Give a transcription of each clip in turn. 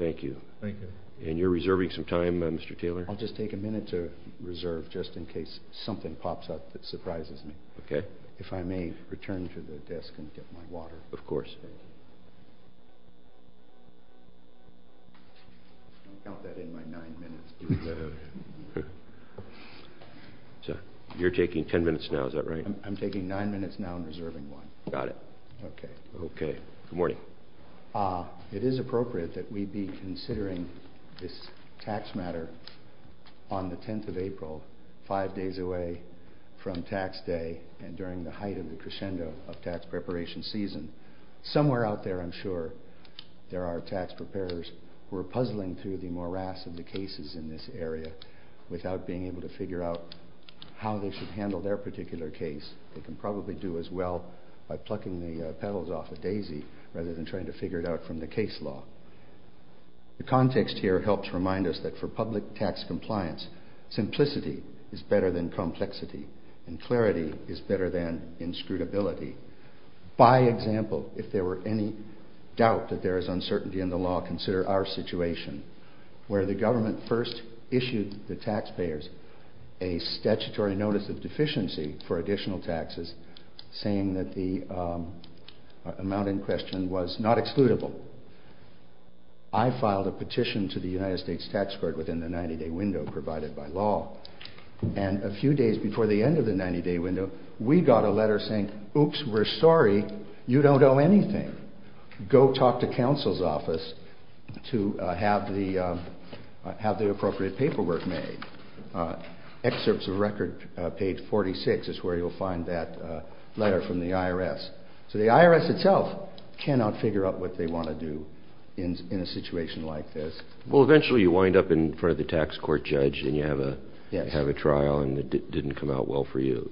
Thank you. And you're reserving some time Mr. Taylor? I'll just take a minute to reserve just in case something pops up that surprises me. Okay. If I may return to the desk and get my water. Of course. I'll count that in my nine minutes. You're taking ten minutes now, is that right? I'm taking nine minutes now and reserving one. Got it. Okay. Okay. Good morning. It is appropriate that we be considering this tax matter on the 10th of April, five days away from tax day and during the height of the crescendo of tax preparation season. Somewhere out there I'm sure there are tax preparers who are puzzling through the morass of the cases in this area without being able to figure out how they should handle their particular case. They can probably do as well by plucking the petals off a daisy rather than trying to figure it out from the case law. The context here helps remind us that for public tax compliance, simplicity is better than complexity and clarity is better than inscrutability. By example, if there were any doubt that there is uncertainty in the law, consider our situation where the government first issued the taxpayers a statutory notice of deficiency for additional taxes saying that the amount in question was not excludable. I filed a petition to the United States Tax Court within the 90-day window provided by law and a few days before the end of the 90-day window, we got a letter saying, oops, we're sorry, you don't owe anything. Go talk to counsel's office to have the appropriate paperwork made. Excerpts of record page 46 is where you'll find that letter from the IRS. So the IRS itself cannot figure out what they want to do in a situation like this. Well, eventually you wind up in front of the tax court judge and you have a trial and it didn't come out well for you.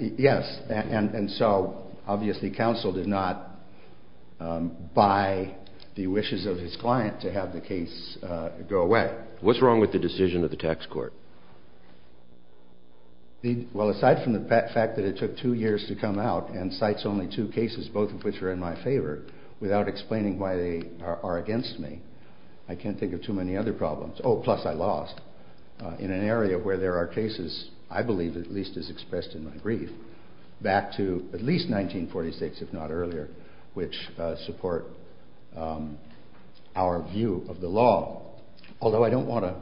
Yes, and so obviously counsel did not buy the wishes of his client to have the case go away. What's wrong with the decision of the tax court? Well, aside from the fact that it took two years to come out and cites only two cases, both of which are in my favor, without explaining why they are against me, I can't think of too many other problems. Oh, plus I lost in an area where there are cases, I believe at least our view of the law, although I don't want to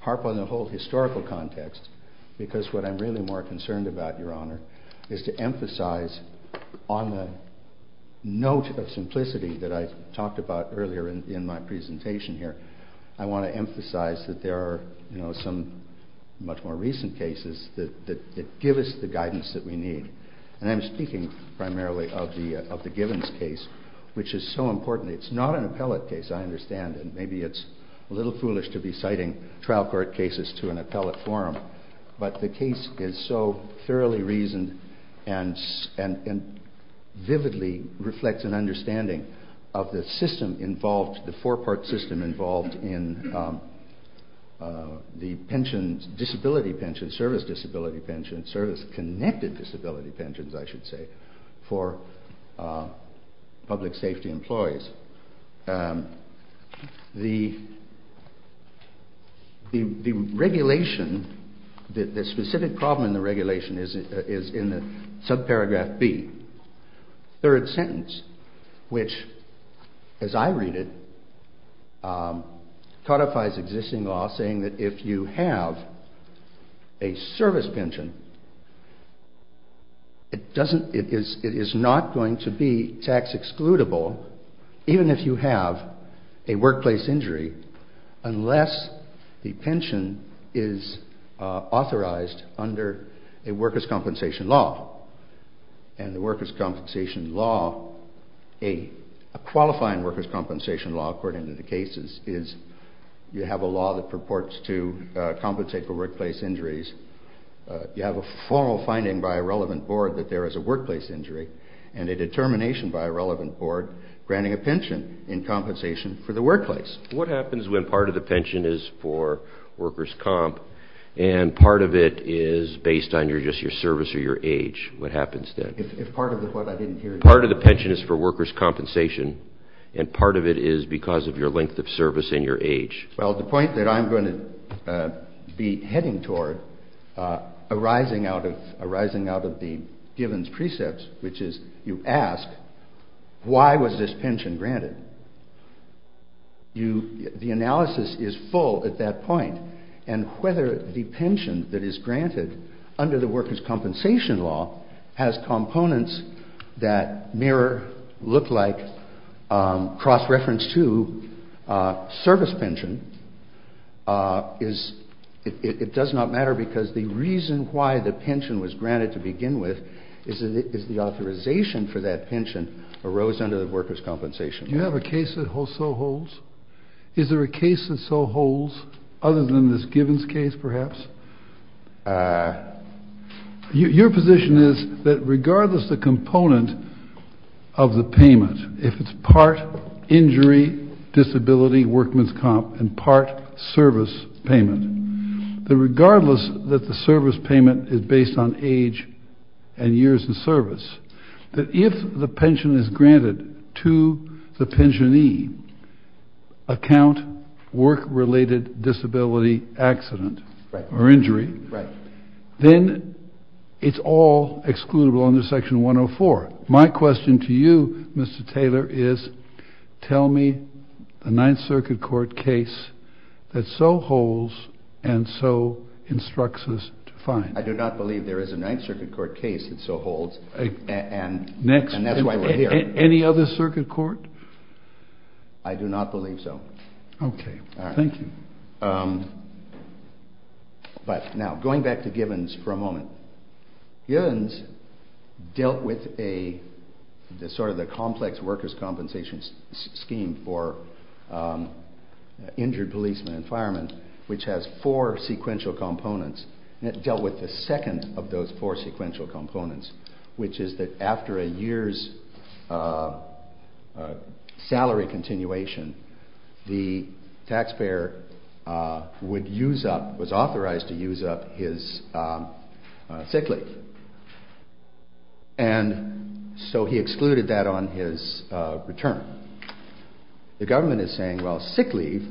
harp on the whole historical context because what I'm really more concerned about, Your Honor, is to emphasize on the note of simplicity that I talked about earlier in my presentation here, I want to emphasize that there are some much more recent cases that give us the guidance that we need. And I'm speaking primarily of the Givens case, which is so important. It's not an appellate case, I understand, and maybe it's a little foolish to be citing trial court cases to an appellate forum, but the case is so thoroughly reasoned and vividly reflects an understanding of the system involved, the four-part system involved in the pensions, disability pensions, service disability pensions, service connected disability pensions, I should say, for public safety employees. The regulation, the specific problem in the regulation is in the subparagraph B, third sentence, which as I read it, codifies existing law saying that if you have a service pension, it is not going to be tax excludable, even if you have a workplace injury, unless the pension is authorized under a workers compensation law, according to the cases, is you have a law that purports to compensate for workplace injuries, you have a formal finding by a relevant board that there is a workplace injury, and a determination by a relevant board granting a pension in compensation for the workplace. What happens when part of the pension is for workers comp, and part of it is based on just your service or your age? What happens then? If part of the, what I didn't hear, part of the is because of your length of service and your age. Well, the point that I'm going to be heading toward, arising out of the Givens Precepts, which is you ask, why was this pension granted? The analysis is full at that point, and whether the pension that is reference to service pension, it does not matter, because the reason why the pension was granted to begin with is the authorization for that pension arose under the workers' compensation law. Do you have a case that so holds? Is there a case that so holds, other than this Givens case, perhaps? Your position is that regardless the component of the payment, if it's part injury, disability, workman's comp, and part service payment, that regardless that the service payment is based on age and years of service, that if the pension is granted to the pensionee, account work-related disability accident or injury, then it's all excludable under Section 104. My question to you, Mr. Taylor, is tell me the Ninth Circuit Court case that so holds and so instructs us to find. I do not believe there is a Ninth Circuit Court case that so holds, and that's why we're here. Any other circuit court? I do not believe so. Okay, thank you. But now, going back to Givens for a moment, Givens dealt with a, sort of the complex workers' compensation scheme for injured policemen and firemen, which has four sequential components, and it dealt with the second of those four sequential components, which is that after a year's salary continuation, the taxpayer would use up, was authorized to use up his sick leave, and so he excluded that on his return. The government is saying, well, sick leave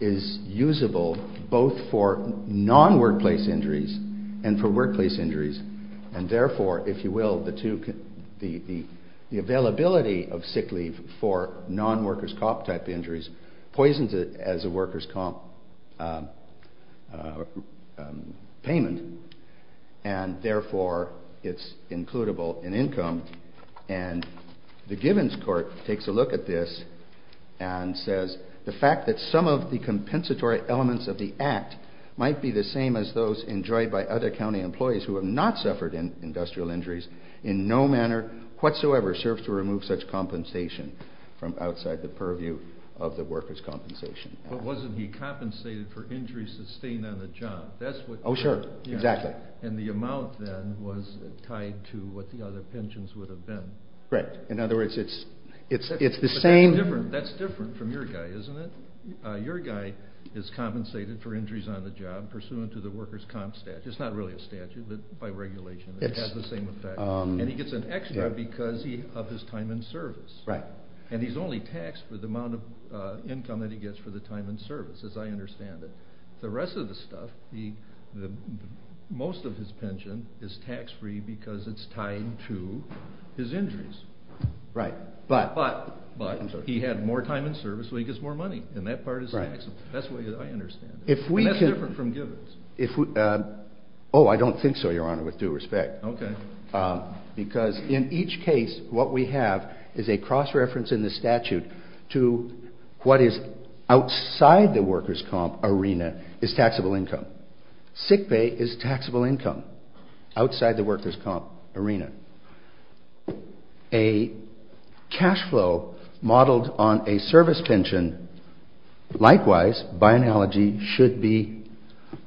is usable both for non-workplace injuries and for workplace injuries, and therefore, if you will, the two, the availability of sick leave for non-workers' comp-type injuries poisons it as a workers' comp payment, and therefore, it's includable in income, and the Givens court takes a look at this and says, the fact that some of the compensatory elements of the act might be the same as those enjoyed by other county employees who have not suffered industrial injuries in no manner whatsoever serves to remove such compensation from outside the purview of the workers' compensation. But wasn't he compensated for injuries sustained on the job? That's what... Oh, sure. Exactly. And the amount then was tied to what the other pensions would have been. Right. In other words, it's the same... But that's different from your guy, isn't it? Your guy is compensated for injuries on the job pursuant to the workers' comp statute. It's not really a statute, but by regulation, it has the same effect, and he gets an extra because of his time in service, and he's only taxed for the amount of income that he gets for the time in service, as I understand it. The rest of the stuff, most of his pension is tax-free because it's tied to his injuries. Right, but... But he had more time in service, so he gets more money, and that part is taxable. That's the way I understand it. And that's different from Gibbons. If we can... Oh, I don't think so, Your Honor, with due respect. Okay. Because in each case, what we have is a cross-reference in the statute to what is outside the workers' comp arena is taxable income. Sick pay is taxable income outside the workers' comp arena. A cash flow modeled on a service pension, likewise, by analogy, should be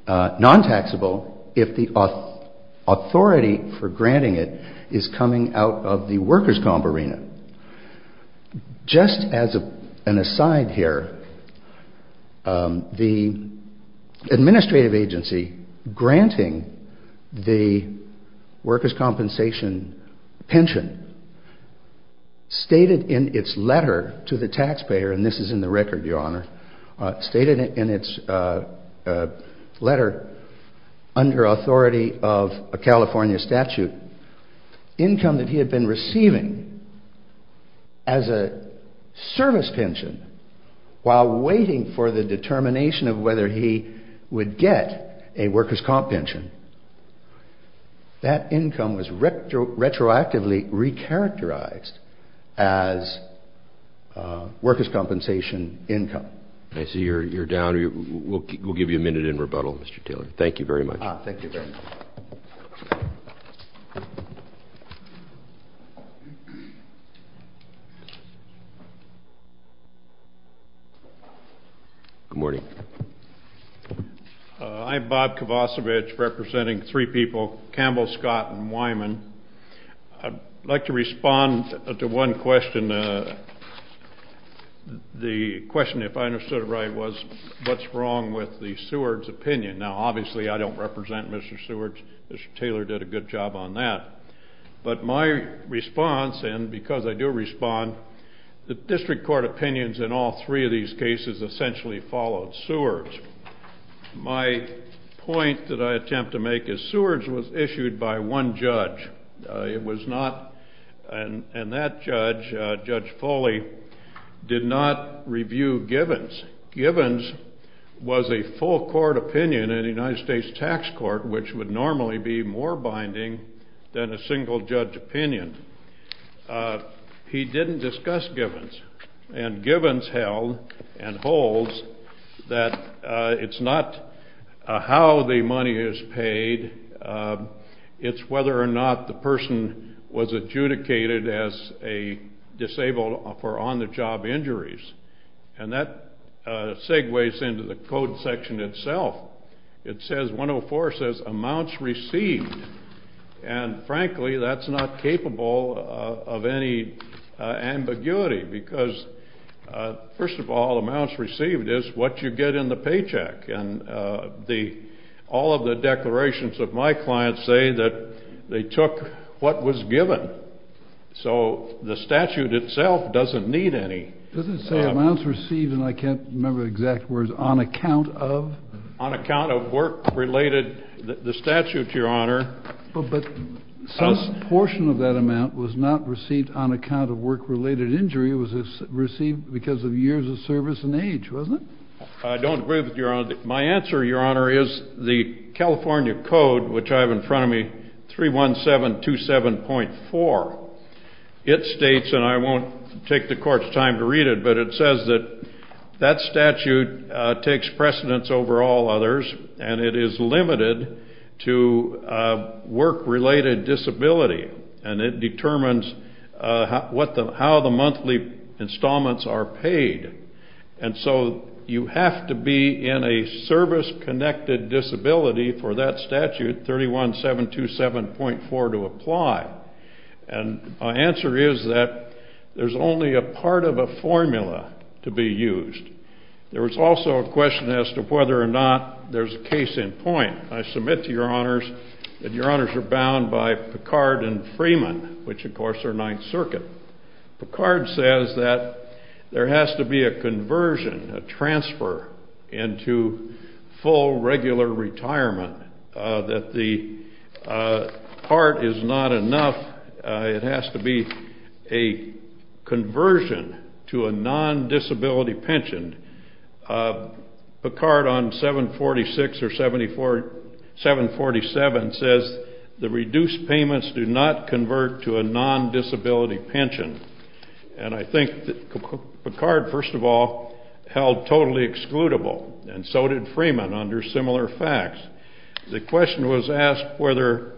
non-taxable if the authority for granting it is coming out of the workers' workers' compensation pension stated in its letter to the taxpayer, and this is in the record, Your Honor, stated in its letter under authority of a California statute, income that he had been receiving as a service pension while waiting for the determination of whether he would get a income was retroactively re-characterized as workers' compensation income. I see you're down. We'll give you a minute in rebuttal, Mr. Taylor. Thank you very much. Thank you very much. Good morning. I'm Bob Kovacevic, representing three people, Campbell, Scott, and Wyman. I'd like to respond to one question. The question, if I understood it right, was what's wrong with the Seward's opinion? Now, obviously, I don't represent Mr. Seward. Mr. Taylor did a good job on that. But my response, and because I do respond, the district court opinions in all three of these cases essentially followed Seward's. My point that I attempt to make is Seward's was issued by one judge. It was not, and that judge, Judge Foley, did not review Givens. Givens was a full court opinion in the United States Tax Court, which would normally be more binding than a single judge opinion. He didn't discuss Givens. And Givens held and holds that it's not how the money is paid, it's whether or not the person was adjudicated as a disabled for on-the-job injuries. And that segues into the code section itself. It says, 104 says, amounts received. And frankly, that's not capable of any ambiguity, because, first of all, amounts received is what you get in the paycheck. And the, all of the declarations of my clients say that they took what was given. So the statute itself doesn't need any. Does it say amounts received, and I can't remember the exact words, on account of? On account of work-related, the statute, Your Honor. But some portion of that amount was not received on account of work-related injury. It was received because of years of service and age, wasn't it? I don't agree with Your Honor. My answer, Your Honor, is the California Code, which I have in front of me, 31727.4. It states, and I won't take the Court's time to read it, but it says that that statute takes precedence over all others, and it is limited to work-related disability. And it determines what the, how the monthly installments are paid. And so you have to be in a service-connected disability for that statute, 31727.4, to apply. And my answer is that there's only a part of a formula to be used. There was also a question as to whether or not there's a case in point. I submit to Your Honors that Your Honors are bound by Picard and Freeman, which of course are Ninth Circuit. Picard says that there has to be a conversion, a transfer, into full regular retirement, that the part is not enough. It has to be a conversion to a non-disability pension. And I think that Picard, first of all, held totally excludable, and so did Freeman under similar facts. The question was asked whether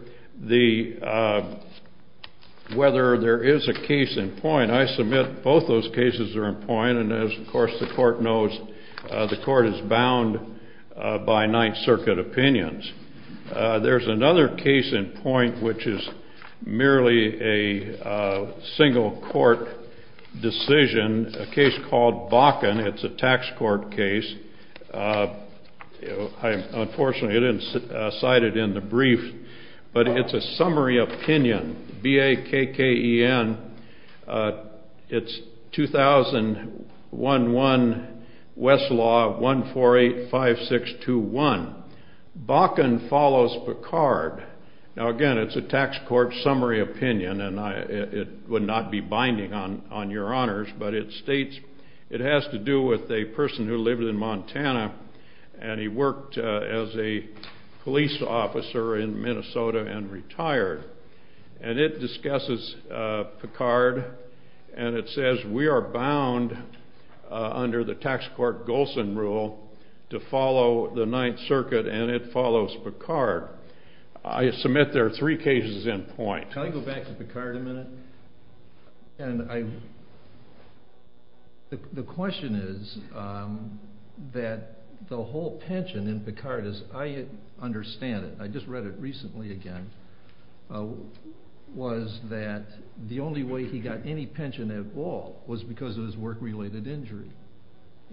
there is a case in point. I submit both those cases are in point, and as of course the Court knows, the Court is bound by Ninth a single court decision, a case called Bakken. It's a tax court case. I unfortunately didn't cite it in the brief, but it's a summary opinion, B-A-K-K-E-N. It's 2011 Westlaw 1485621. Bakken follows Picard. Now again, it's a tax court summary opinion, and it would not be binding on Your Honors, but it states it has to do with a person who lived in Montana, and he worked as a police officer in Minnesota and retired. And it discusses Picard, and it says we are bound under the tax court Golsan rule to follow the Ninth Circuit, and it follows Picard. I submit there are three cases in point. Can I go back to Picard a minute? The question is that the whole pension in Picard, as I understand it, I just read it recently again, was that the only way he got any pension at all was because of his work-related injury.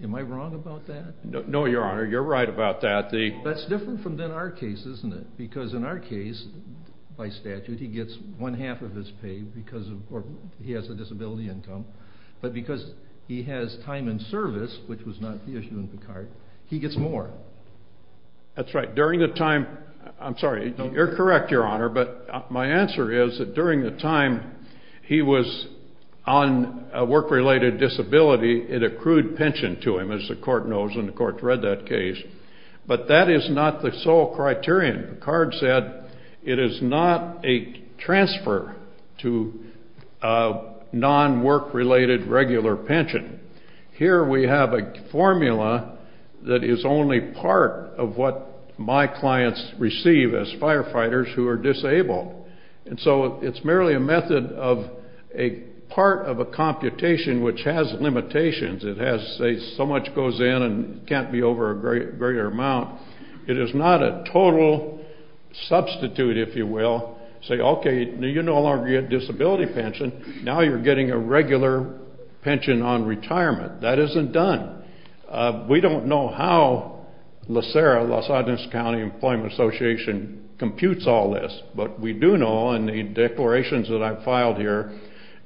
Am I wrong about that? No, Your Honor, you're right about that. That's different from our case, isn't it? Because in our case, by statute, he gets one half of his pay because he has a disability income, but because he has time in service, which was not the issue in Picard, he gets more. That's right. During the time, I'm sorry, you're correct, Your Honor, but my answer is that during the time he was on a work-related disability, it accrued pension to him, as the court knows, and the court read that case, but that is not the sole criterion. Picard said it is not a transfer to non-work-related regular pension. Here we have a formula that is only part of what my clients receive as firefighters who are disabled. And so it's merely a part of a computation which has limitations. It has, say, so much goes in and can't be over a greater amount, it is not a total substitute, if you will, say, okay, you no longer get disability pension, now you're getting a regular pension on retirement. That isn't done. We don't know how LACERA, Los Angeles County Employment Association, computes all this, but we do know in the declarations that I've filed here,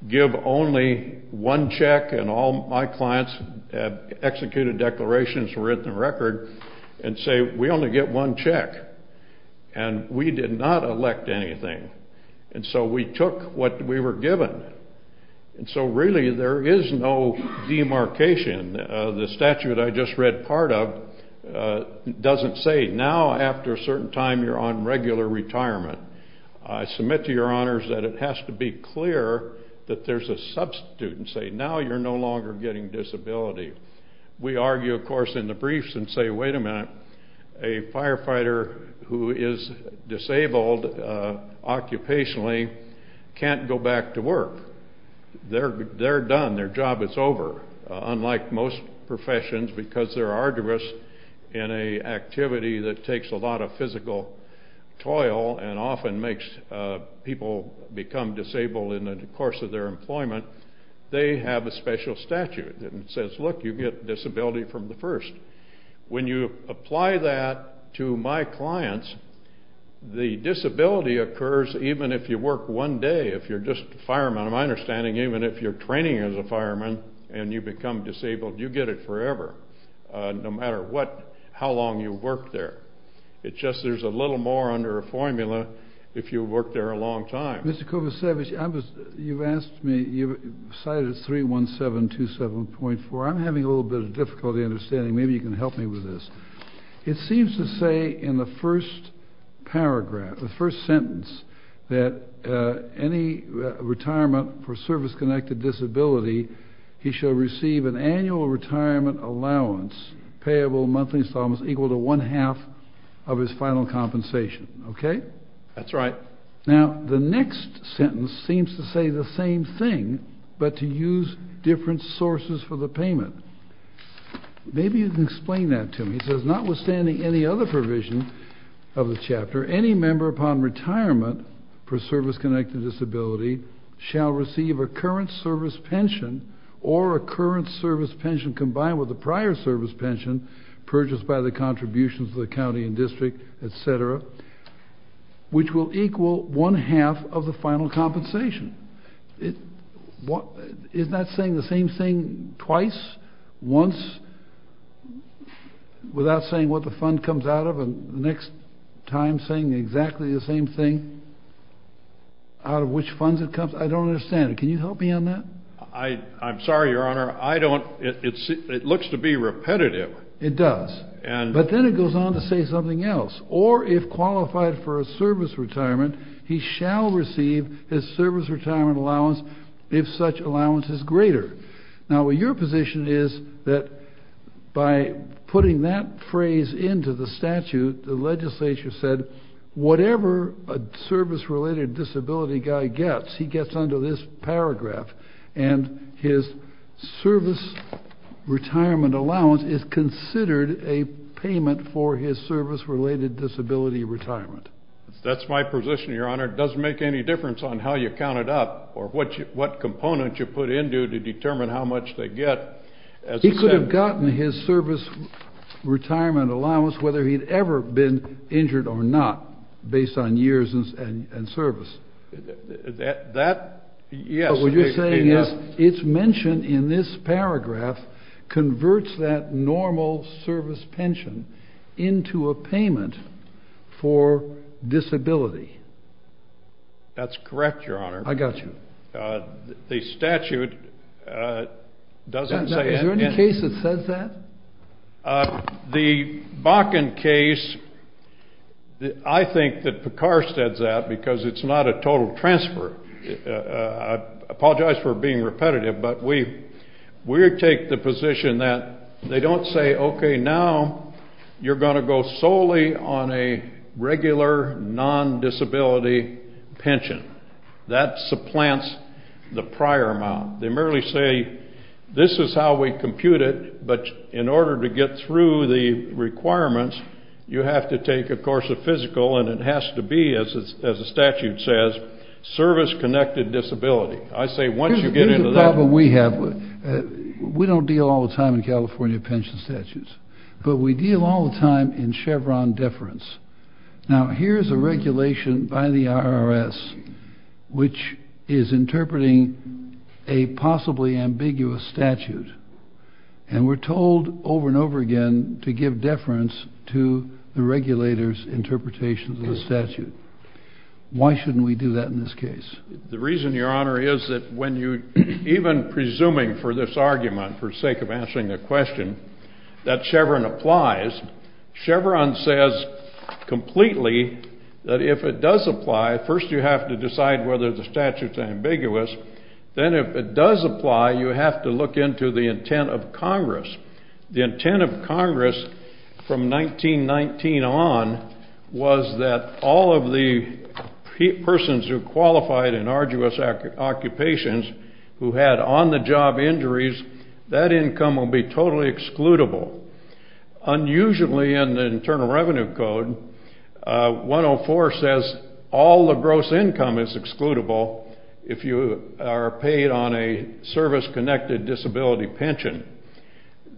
give only one check, and all my clients have executed declarations, written a record, and say, we only get one check. And we did not elect anything. And so we took what we were given. And so really, there is no demarcation. The statute I just read part of doesn't say, now after a certain time, you're on regular retirement. I submit to your honors that it has to be clear that there's a substitute and say, now you're no longer getting disability. We argue, of course, in the briefs and say, wait a minute, a firefighter who is disabled, occupationally, can't go back to work. They're done, their job is over. Unlike most professions, because they're arduous in an activity that takes a lot of physical toil and often makes people become disabled in the course of their employment, they have a special statute that says, look, you get disability from the first. When you apply that to my clients, the disability occurs even if you work one day, if you're just a fireman. My understanding, even if you're training as a fireman and you become disabled, you get it forever, no matter what, how long you work there. It's just there's a little more under a formula if you work there a long time. Mr. Kovacevic, you've cited 31727.4. I'm having a little bit of difficulty understanding. Maybe you can help me with this. It seems to say in the first paragraph, the first sentence, that any retirement for service-connected disability, he shall receive an annual retirement allowance, payable monthly installments, equal to one-half of his final compensation. Okay. That's right. Now, the next sentence seems to say the same thing, but to use different sources for the payment. Maybe you can explain that to me. It says, notwithstanding any other provision of the chapter, any member upon retirement for service-connected disability shall receive a current service pension or a current service pension combined with a prior service pension purchased by the contributions of the county and district, etc., which will equal one-half of the final compensation. Isn't that saying the same thing twice, once, without saying what the fund comes out of, and the next time saying exactly the same thing, out of which funds it comes? I don't understand it. Can you help me on that? I'm sorry, Your Honor. It looks to be repetitive. It does. But then it goes on to say something else. Or, if qualified for a service retirement, he shall receive his service retirement allowance if such allowance is greater. Now, your position is that by putting that phrase into the statute, the legislature said, whatever a service-related disability guy gets, he gets under this paragraph, and his service retirement allowance is considered a payment for his service-related disability retirement. That's my position, Your Honor. It doesn't make any difference on how you count it up or what component you put into it to determine how much they get. He could have gotten his service retirement allowance whether he'd ever been injured or not, based on years and service. That, yes. But what you're saying is, it's mentioned in this paragraph, converts that normal service pension into a payment for disability. That's correct, Your Honor. I got you. The statute doesn't say it. Is there any case that says that? The Bakken case, I think that Picard says that because it's not a total transfer. I apologize for being repetitive, but we take the position that they don't say, okay, now you're going to go solely on a regular, non-disability pension. That supplants the prior amount. They merely say, this is how we compute it, but in order to get through the requirements, you have to take, of course, a physical, and it has to be, as the statute says, service-connected disability. I say once you get into that. Here's a problem we have. We don't deal all the time in California pension statutes, but we deal all the time in Chevron deference. Now, here's a regulation by the IRS which is interpreting a possibly ambiguous statute, and we're told over and over again to give deference to the regulator's interpretation of the statute. Why shouldn't we do that in this case? The reason, Your Honor, is that when you, even presuming for this argument, for sake of answering the question, that Chevron applies, Chevron says completely that if it does apply, first you have to decide whether the statute's ambiguous, then if it does apply, you have to look into the intent of Congress. The intent of Congress from 1919 on was that all of the persons who qualified in arduous occupations who had on-the-job injuries, that income will be totally excludable. Unusually in the Internal Revenue Code, 104 says all the gross income is excludable if you are paid on a service-connected disability pension.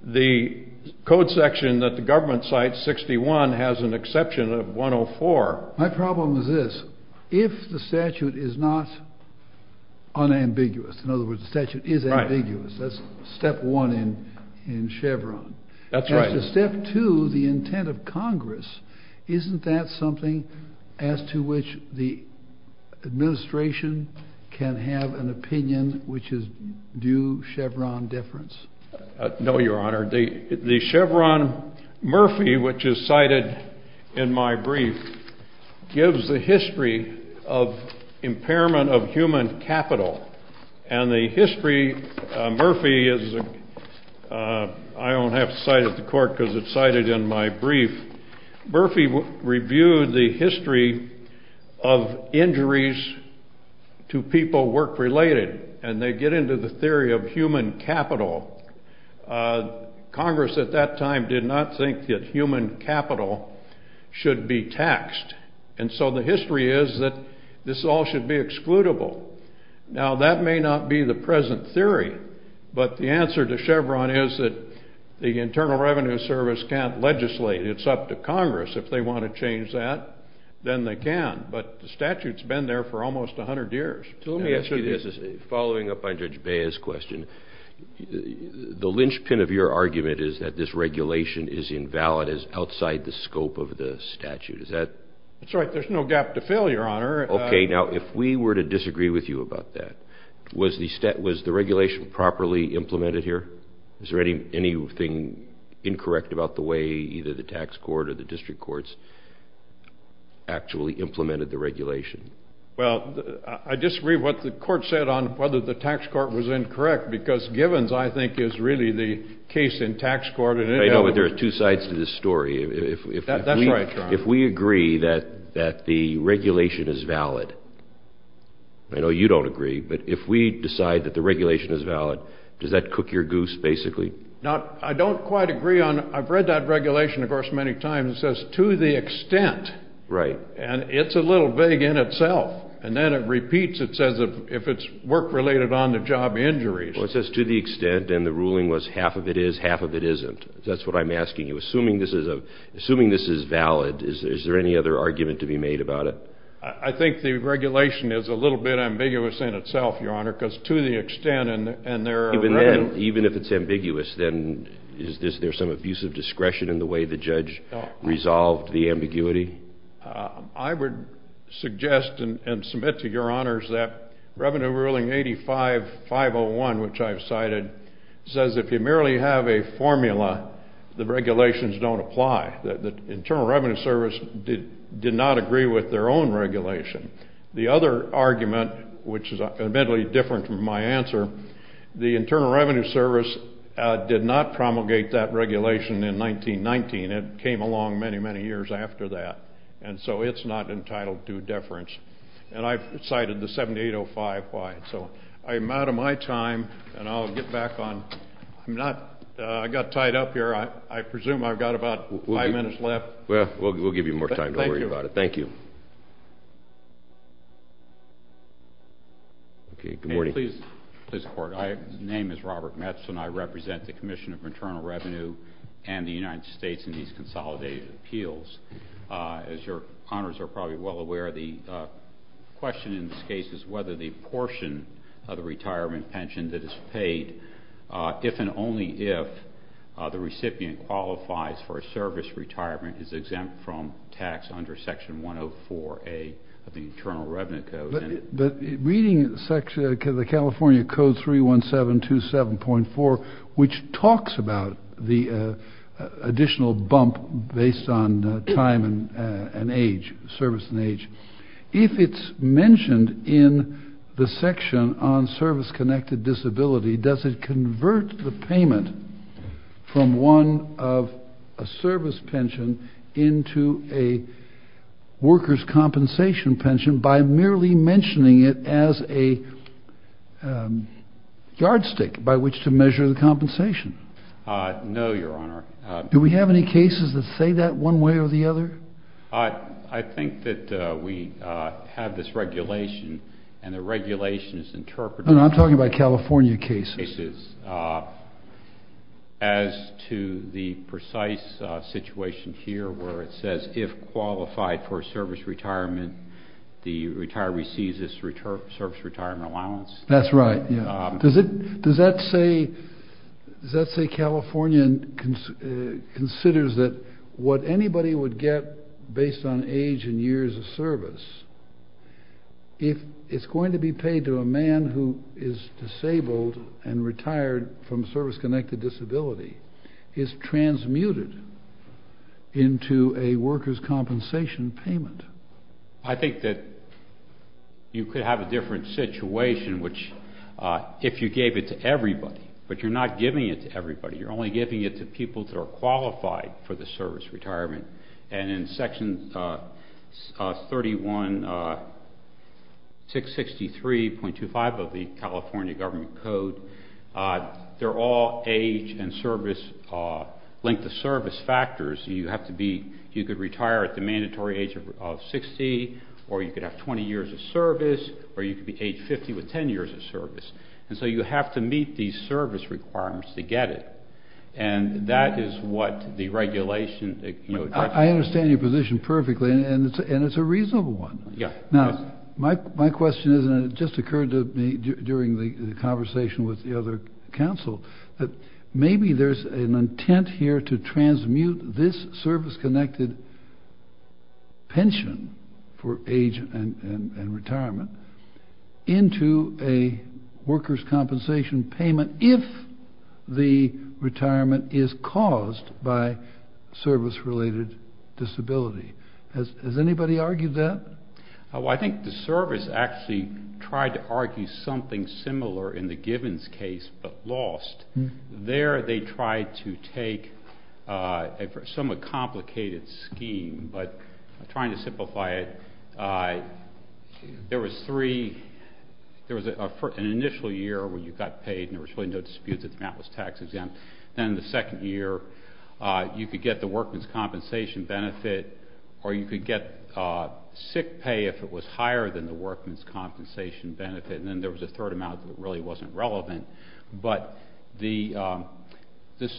The code section that the government cites, 61, has an exception of 104. My problem is this. If the statute is not unambiguous, in other words, the statute is ambiguous, that's step one in Chevron. That's right. As to step two, the intent of Congress, isn't that something as to which the administration can have an opinion which is due Chevron deference? No, Your Honor. The Chevron Murphy, which is cited in my brief, gives the history of impairment of human capital. And the history, Murphy is, I don't have to cite it to court because it's cited in my brief, Murphy reviewed the history of injuries to people work-related. And they get into the theory of human capital. Congress at that time did not think that human capital should be taxed. And so the history is that this all should be excludable. Now that may not be the present theory, but the answer to Chevron is that the Internal Revenue Service can't legislate. It's up to Congress. If they want to change that, then they can. But the statute's been there for almost 100 years. So let me ask you this, following up on Judge Baez's question, the linchpin of your argument is that this regulation is invalid, is outside the scope of the statute. Is that? That's right. There's no gap to fill, Your Honor. Okay, now if we were to disagree with you about that, was the regulation properly implemented here? Is there anything incorrect about the way either the tax court or the district courts actually implemented the regulation? Well, I disagree with what the court said on whether the tax court was incorrect, because Givens, I think, is really the case in tax court. I know, but there are two sides to this story. That's right, Your Honor. If we agree that the regulation is valid, I know you don't agree, but if we decide that the regulation is valid, does that cook your goose, basically? Now, I don't quite agree on – I've read that regulation, of course, many times. It says, to the extent. Right. And it's a little vague in itself. And then it repeats, it says, if it's work-related on-the-job injuries. Well, it says, to the extent, and the ruling was half of it is, half of it isn't. That's what I'm asking you. Assuming this is valid, is there any other argument to be made about it? I think the regulation is a little bit ambiguous in itself, Your Honor, because to the extent, and there are – Well, even then, even if it's ambiguous, then is there some abuse of discretion in the way the judge resolved the ambiguity? I would suggest and submit to Your Honors that Revenue Ruling 85-501, which I've cited, says if you merely have a formula, the regulations don't apply. The Internal Revenue Service did not agree with their own regulation. The other argument, which is admittedly different from my answer, the Internal Revenue Service did not promulgate that regulation in 1919. It came along many, many years after that. And so it's not entitled to deference. And I've cited the 7805 why. So I'm out of my time, and I'll get back on – I'm not – I got tied up here. I presume I've got about five minutes left. Well, we'll give you more time. Don't worry about it. Thank you. Okay. Good morning. Please, Court. My name is Robert Metz, and I represent the Commission of Maternal Revenue and the United States in these consolidated appeals. As Your Honors are probably well aware, the question in this case is whether the portion of the retirement pension that is paid, if and only if the recipient qualifies for a service retirement, is exempt from tax under Section 104A of the Internal Revenue Code. But reading the California Code 31727.4, which talks about the additional bump based on time and age, service and age, if it's mentioned in the section on service-connected disability, does it convert the payment from one of a service pension into a worker's compensation pension by merely mentioning it as a yardstick by which to measure the compensation? No, Your Honor. Do we have any cases that say that one way or the other? I think that we have this regulation, and the regulation is interpreted. I'm talking about California cases. As to the precise situation here where it says if qualified for service retirement, the retiree receives this service retirement allowance. That's right. Does that say California considers that what anybody would get based on age and years of service, if it's going to be paid to a man who is disabled and retired from service-connected disability, is transmuted into a worker's compensation payment? I think that you could have a different situation if you gave it to everybody. But you're not giving it to everybody. You're only giving it to people that are qualified for the service retirement. And in Section 31663.25 of the California Government Code, they're all age and service, length of service factors. You could retire at the mandatory age of 60, or you could have 20 years of service, or you could be age 50 with 10 years of service. And so you have to meet these service requirements to get it. And that is what the regulation— I understand your position perfectly, and it's a reasonable one. Yeah. Now, my question is, and it just occurred to me during the conversation with the other counsel, that maybe there's an intent here to transmute this service-connected pension for age and retirement into a worker's compensation payment if the retirement is caused by service-related disability. Has anybody argued that? Well, I think the service actually tried to argue something similar in the Givens case, but lost. There they tried to take a somewhat complicated scheme, but I'm trying to simplify it. There was three—there was an initial year where you got paid, and there was really no dispute that that was tax exempt. Then the second year, you could get the workman's compensation benefit, or you could get sick pay if it was higher than the workman's compensation benefit, and then there was a third amount that really wasn't relevant. But the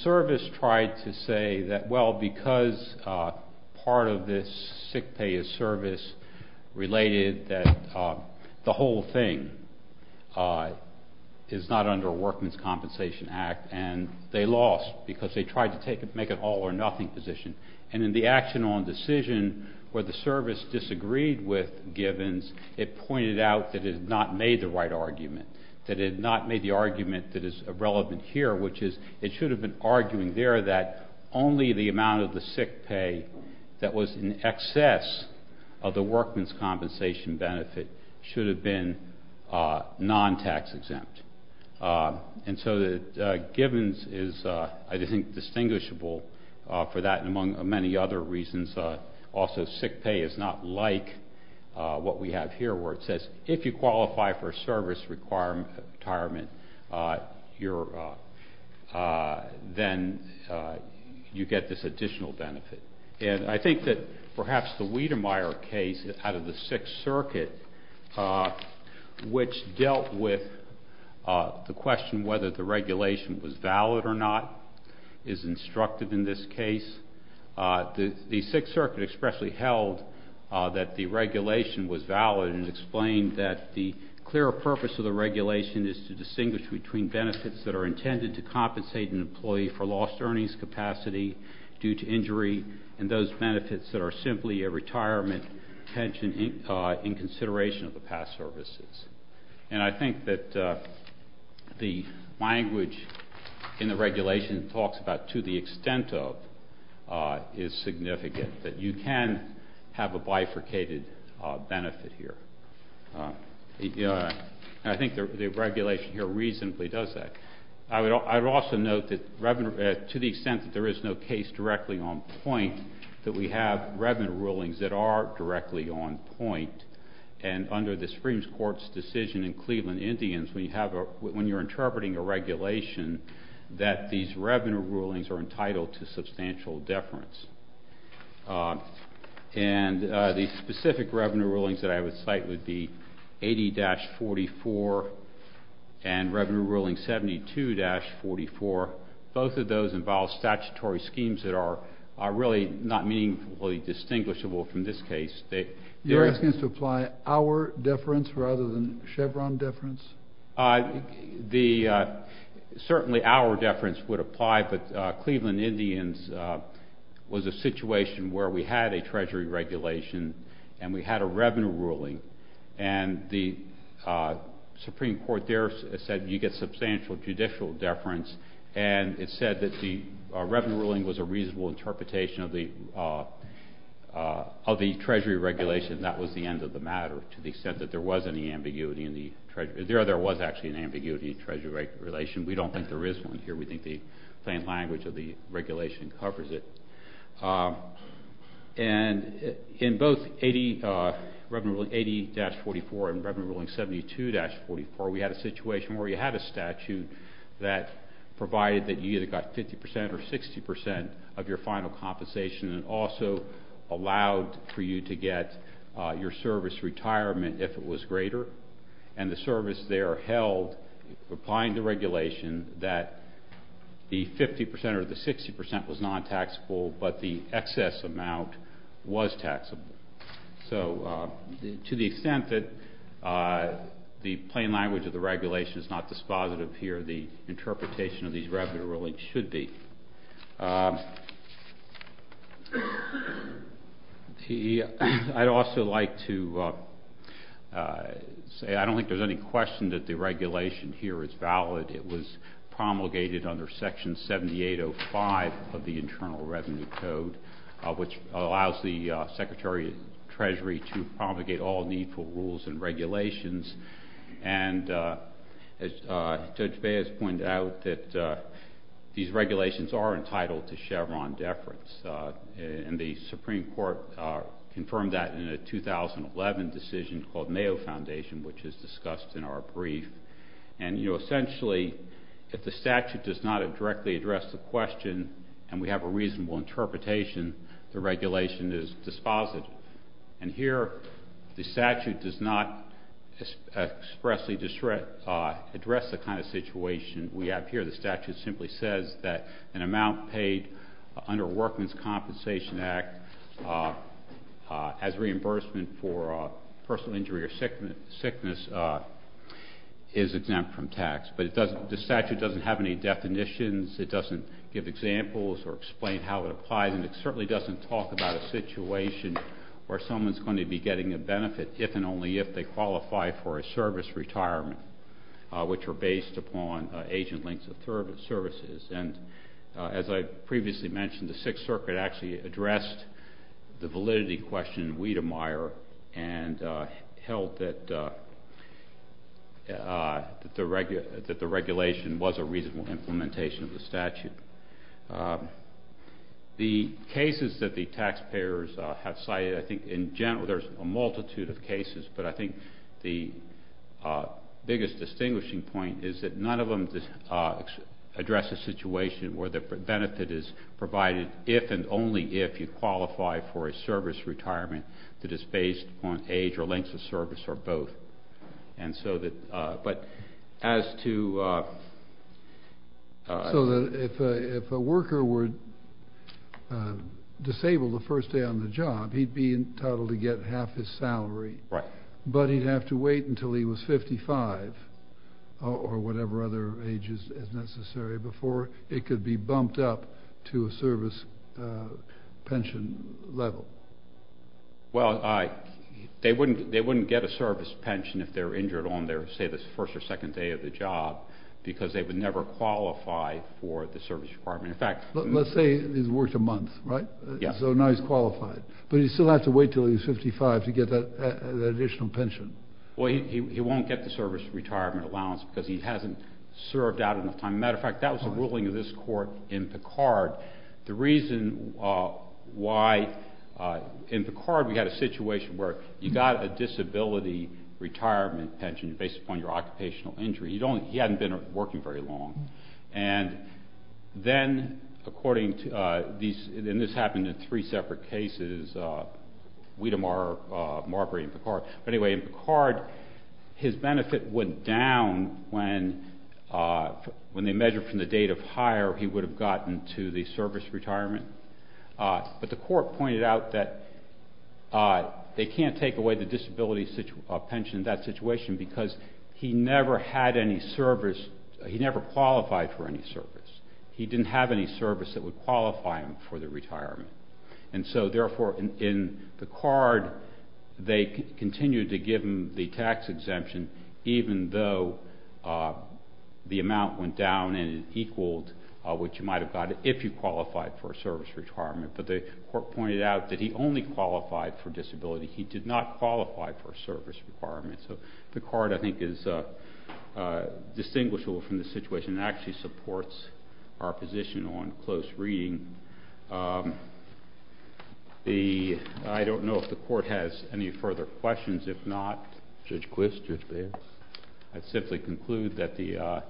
service tried to say that, well, because part of this sick pay is service-related, that the whole thing is not under a workman's compensation act, and they lost because they tried to make an all-or-nothing position. And in the action on decision where the service disagreed with Givens, it pointed out that it had not made the right argument, that it had not made the argument that is relevant here, which is it should have been arguing there that only the amount of the sick pay that was in excess of the workman's compensation benefit should have been non-tax exempt. And so Givens is, I think, distinguishable for that and among many other reasons. Also, sick pay is not like what we have here where it says, if you qualify for a service retirement, then you get this additional benefit. And I think that perhaps the Wiedemeyer case out of the Sixth Circuit, which dealt with the question whether the regulation was valid or not, is instructive in this case. The Sixth Circuit expressly held that the regulation was valid and explained that the clearer purpose of the regulation is to distinguish between benefits that are intended to compensate an employee for lost earnings capacity due to injury and those benefits that are simply a retirement pension in consideration of the past services. And I think that the language in the regulation talks about to the extent of is significant, that you can have a bifurcated benefit here. I think the regulation here reasonably does that. I would also note that to the extent that there is no case directly on point, that we have revenue rulings that are directly on point and under the Supreme Court's decision in Cleveland Indians, when you're interpreting a regulation, that these revenue rulings are entitled to substantial deference. And the specific revenue rulings that I would cite would be 80-44 and Revenue Ruling 72-44. Both of those involve statutory schemes that are really not meaningfully distinguishable from this case. You're asking us to apply our deference rather than Chevron deference? Certainly our deference would apply, but Cleveland Indians was a situation where we had a treasury regulation and we had a revenue ruling and the Supreme Court there said you get substantial judicial deference and it said that the revenue ruling was a reasonable interpretation of the treasury regulation and that was the end of the matter to the extent that there was any ambiguity in the treasury. There was actually an ambiguity in the treasury regulation. We don't think there is one here. We think the plain language of the regulation covers it. And in both 80-44 and Revenue Ruling 72-44, we had a situation where you had a statute that provided that you either got 50% or 60% of your final compensation and also allowed for you to get your service retirement if it was greater. And the service there held, applying the regulation, that the 50% or the 60% was non-taxable, but the excess amount was taxable. So to the extent that the plain language of the regulation is not dispositive here, the interpretation of these revenue rulings should be. I'd also like to say I don't think there's any question that the regulation here is valid. It was promulgated under Section 7805 of the Internal Revenue Code, which allows the Secretary of the Treasury to promulgate all needful rules and regulations. And Judge Baez pointed out that these regulations are entitled to Chevron deference. And the Supreme Court confirmed that in a 2011 decision called Mayo Foundation, which is discussed in our brief. And, you know, essentially if the statute does not directly address the question and we have a reasonable interpretation, the regulation is dispositive. And here the statute does not expressly address the kind of situation we have here. The statute simply says that an amount paid under Workman's Compensation Act as reimbursement for personal injury or sickness is exempt from tax. But the statute doesn't have any definitions. It doesn't give examples or explain how it applies. And it certainly doesn't talk about a situation where someone's going to be getting a benefit if and only if they qualify for a service retirement, which are based upon agent links of services. And as I previously mentioned, the Sixth Circuit actually addressed the validity question in Wiedemeyer and held that the regulation was a reasonable implementation of the statute. The cases that the taxpayers have cited, I think in general there's a multitude of cases, but I think the biggest distinguishing point is that none of them address a situation where the benefit is provided if and only if you qualify for a service retirement that is based on age or links of service or both. But as to... So if a worker were disabled the first day on the job, he'd be entitled to get half his salary. Right. But he'd have to wait until he was 55 or whatever other age is necessary before it could be bumped up to a service pension level. Well, they wouldn't get a service pension if they were injured on their, say, the first or second day of the job because they would never qualify for the service requirement. In fact... Let's say he's worked a month, right? Yeah. So now he's qualified. But he'd still have to wait until he was 55 to get that additional pension. Well, he won't get the service retirement allowance because he hasn't served out enough time. As a matter of fact, that was a ruling of this court in Picard. The reason why in Picard we had a situation where you got a disability retirement pension based upon your occupational injury. He hadn't been working very long. And then, according to these, and this happened in three separate cases, Wedemar, Marbury, and Picard. Anyway, in Picard, his benefit went down when they measured from the date of hire he would have gotten to the service retirement. But the court pointed out that they can't take away the disability pension in that situation because he never had any service. He never qualified for any service. He didn't have any service that would qualify him for the retirement. And so, therefore, in Picard, they continued to give him the tax exemption even though the amount went down and it equaled what you might have gotten if you qualified for a service retirement. But the court pointed out that he only qualified for disability. He did not qualify for a service requirement. So Picard, I think, is distinguishable from the situation. It actually supports our position on close reading. I don't know if the court has any further questions. If not, I'd simply conclude that the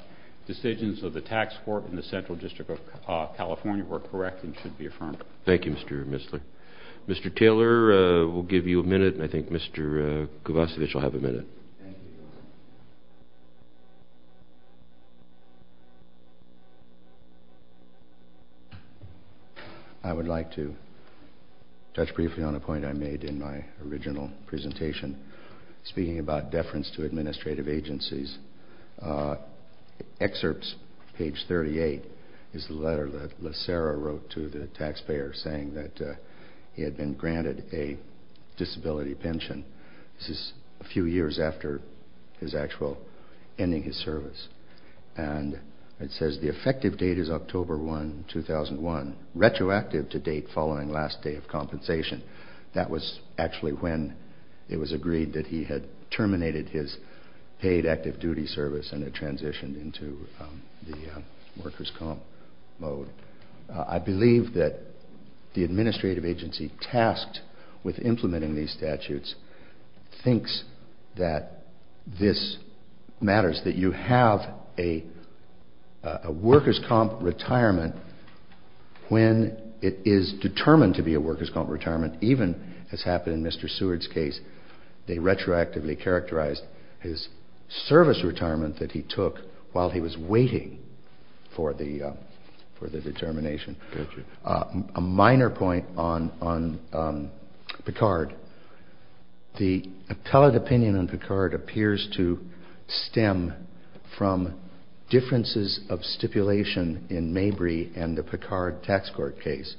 decisions of the tax court in the Central District of California were correct and should be affirmed. Thank you, Mr. Missler. Mr. Taylor, we'll give you a minute, and I think Mr. Kovacevic will have a minute. Thank you. I would like to touch briefly on a point I made in my original presentation speaking about deference to administrative agencies. Excerpts, page 38, is the letter that LaSara wrote to the taxpayer saying that he had been granted a disability pension. This is a few years after his actual ending his service. And it says the effective date is October 1, 2001, retroactive to date following last day of compensation. That was actually when it was agreed that he had terminated his paid active duty service and had transitioned into the workers' comp mode. I believe that the administrative agency tasked with implementing these statutes thinks that this matters, that you have a workers' comp retirement when it is determined to be a workers' comp retirement. Even, as happened in Mr. Seward's case, they retroactively characterized his service retirement that he took while he was waiting for the determination. A minor point on Picard. The appellate opinion on Picard appears to stem from differences of stipulation in Mabry and the Picard tax court case.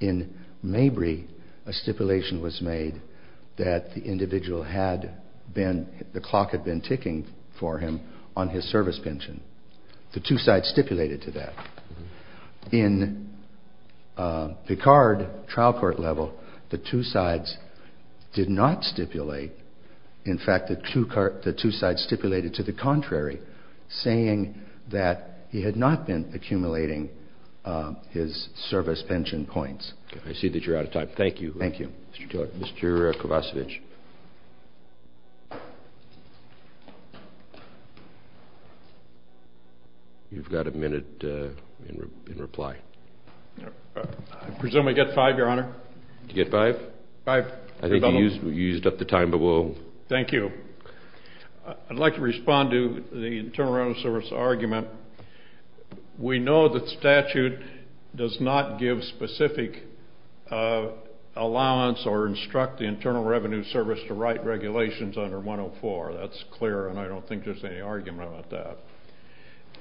In Mabry, a stipulation was made that the individual had been, the clock had been ticking for him on his service pension. The two sides stipulated to that. In Picard trial court level, the two sides did not stipulate. In fact, the two sides stipulated to the contrary, saying that he had not been accumulating his service pension points. I see that you're out of time. Thank you. Thank you. Mr. Kovacevic. You've got a minute in reply. I presume I get five, Your Honor? You get five? Five. I think you used up the time, but we'll... Thank you. I'd like to respond to the Internal Revenue Service argument. We know that statute does not give specific allowance or instruct the Internal Revenue Service to write regulations under 104. That's clear, and I don't think there's any argument about that.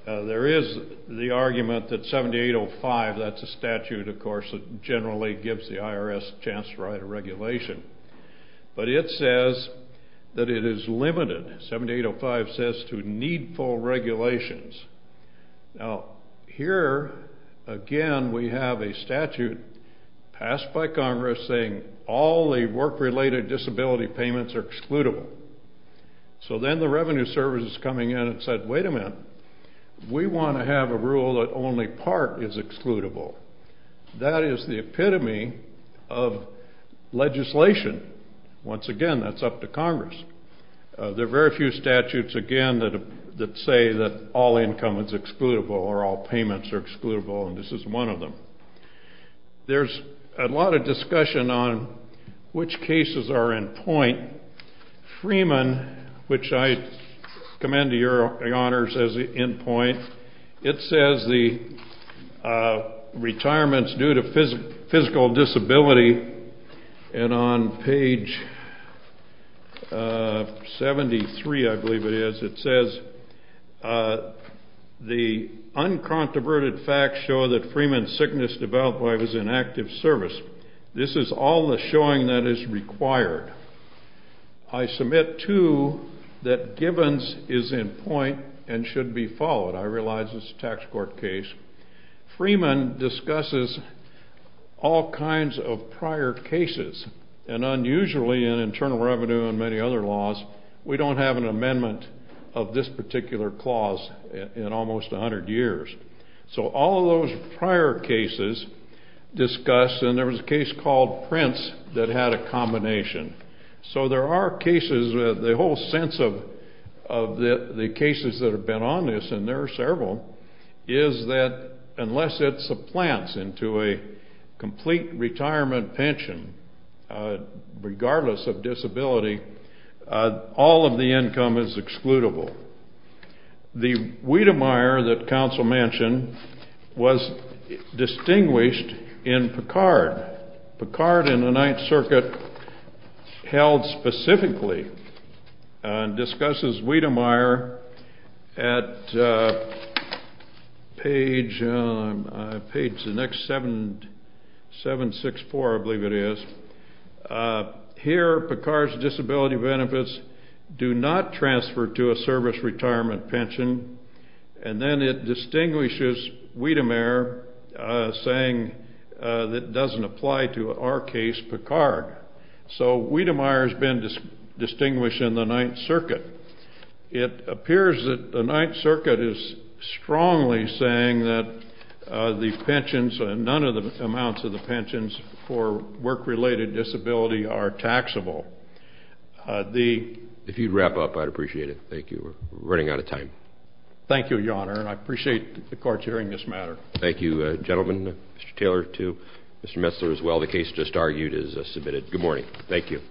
There is the argument that 7805, that's a statute, of course, that generally gives the IRS a chance to write a regulation, but it says that it is limited. 7805 says to need full regulations. Now, here, again, we have a statute passed by Congress saying all the work-related disability payments are excludable. So then the Revenue Service is coming in and said, wait a minute. We want to have a rule that only part is excludable. That is the epitome of legislation. Once again, that's up to Congress. There are very few statutes, again, that say that all income is excludable or all payments are excludable, and this is one of them. There's a lot of discussion on which cases are in point. Freeman, which I commend to your honors as in point, it says the retirements due to physical disability, and on page 73, I believe it is, it says, the uncontroverted facts show that Freeman's sickness developed while he was in active service. This is all the showing that is required. I submit, too, that Gibbons is in point and should be followed. I realize it's a tax court case. Freeman discusses all kinds of prior cases, and unusually in internal revenue and many other laws, we don't have an amendment of this particular clause in almost 100 years. So all of those prior cases discuss, and there was a case called Prince that had a combination. So there are cases, the whole sense of the cases that have been on this, and there are several, is that unless it supplants into a complete retirement pension, regardless of disability, all of the income is excludable. The Wiedemeyer that counsel mentioned was distinguished in Picard. Picard in the Ninth Circuit held specifically and discusses Wiedemeyer at page 764, I believe it is. Here, Picard's disability benefits do not transfer to a service retirement pension, and then it distinguishes Wiedemeyer, saying it doesn't apply to our case, Picard. So Wiedemeyer has been distinguished in the Ninth Circuit. It appears that the Ninth Circuit is strongly saying that the pensions, and none of the amounts of the pensions for work-related disability are taxable. If you'd wrap up, I'd appreciate it. Thank you. We're running out of time. Thank you, Your Honor, and I appreciate the courts hearing this matter. Thank you, gentlemen, Mr. Taylor too, Mr. Messler as well. The case just argued is submitted. Good morning. Thank you.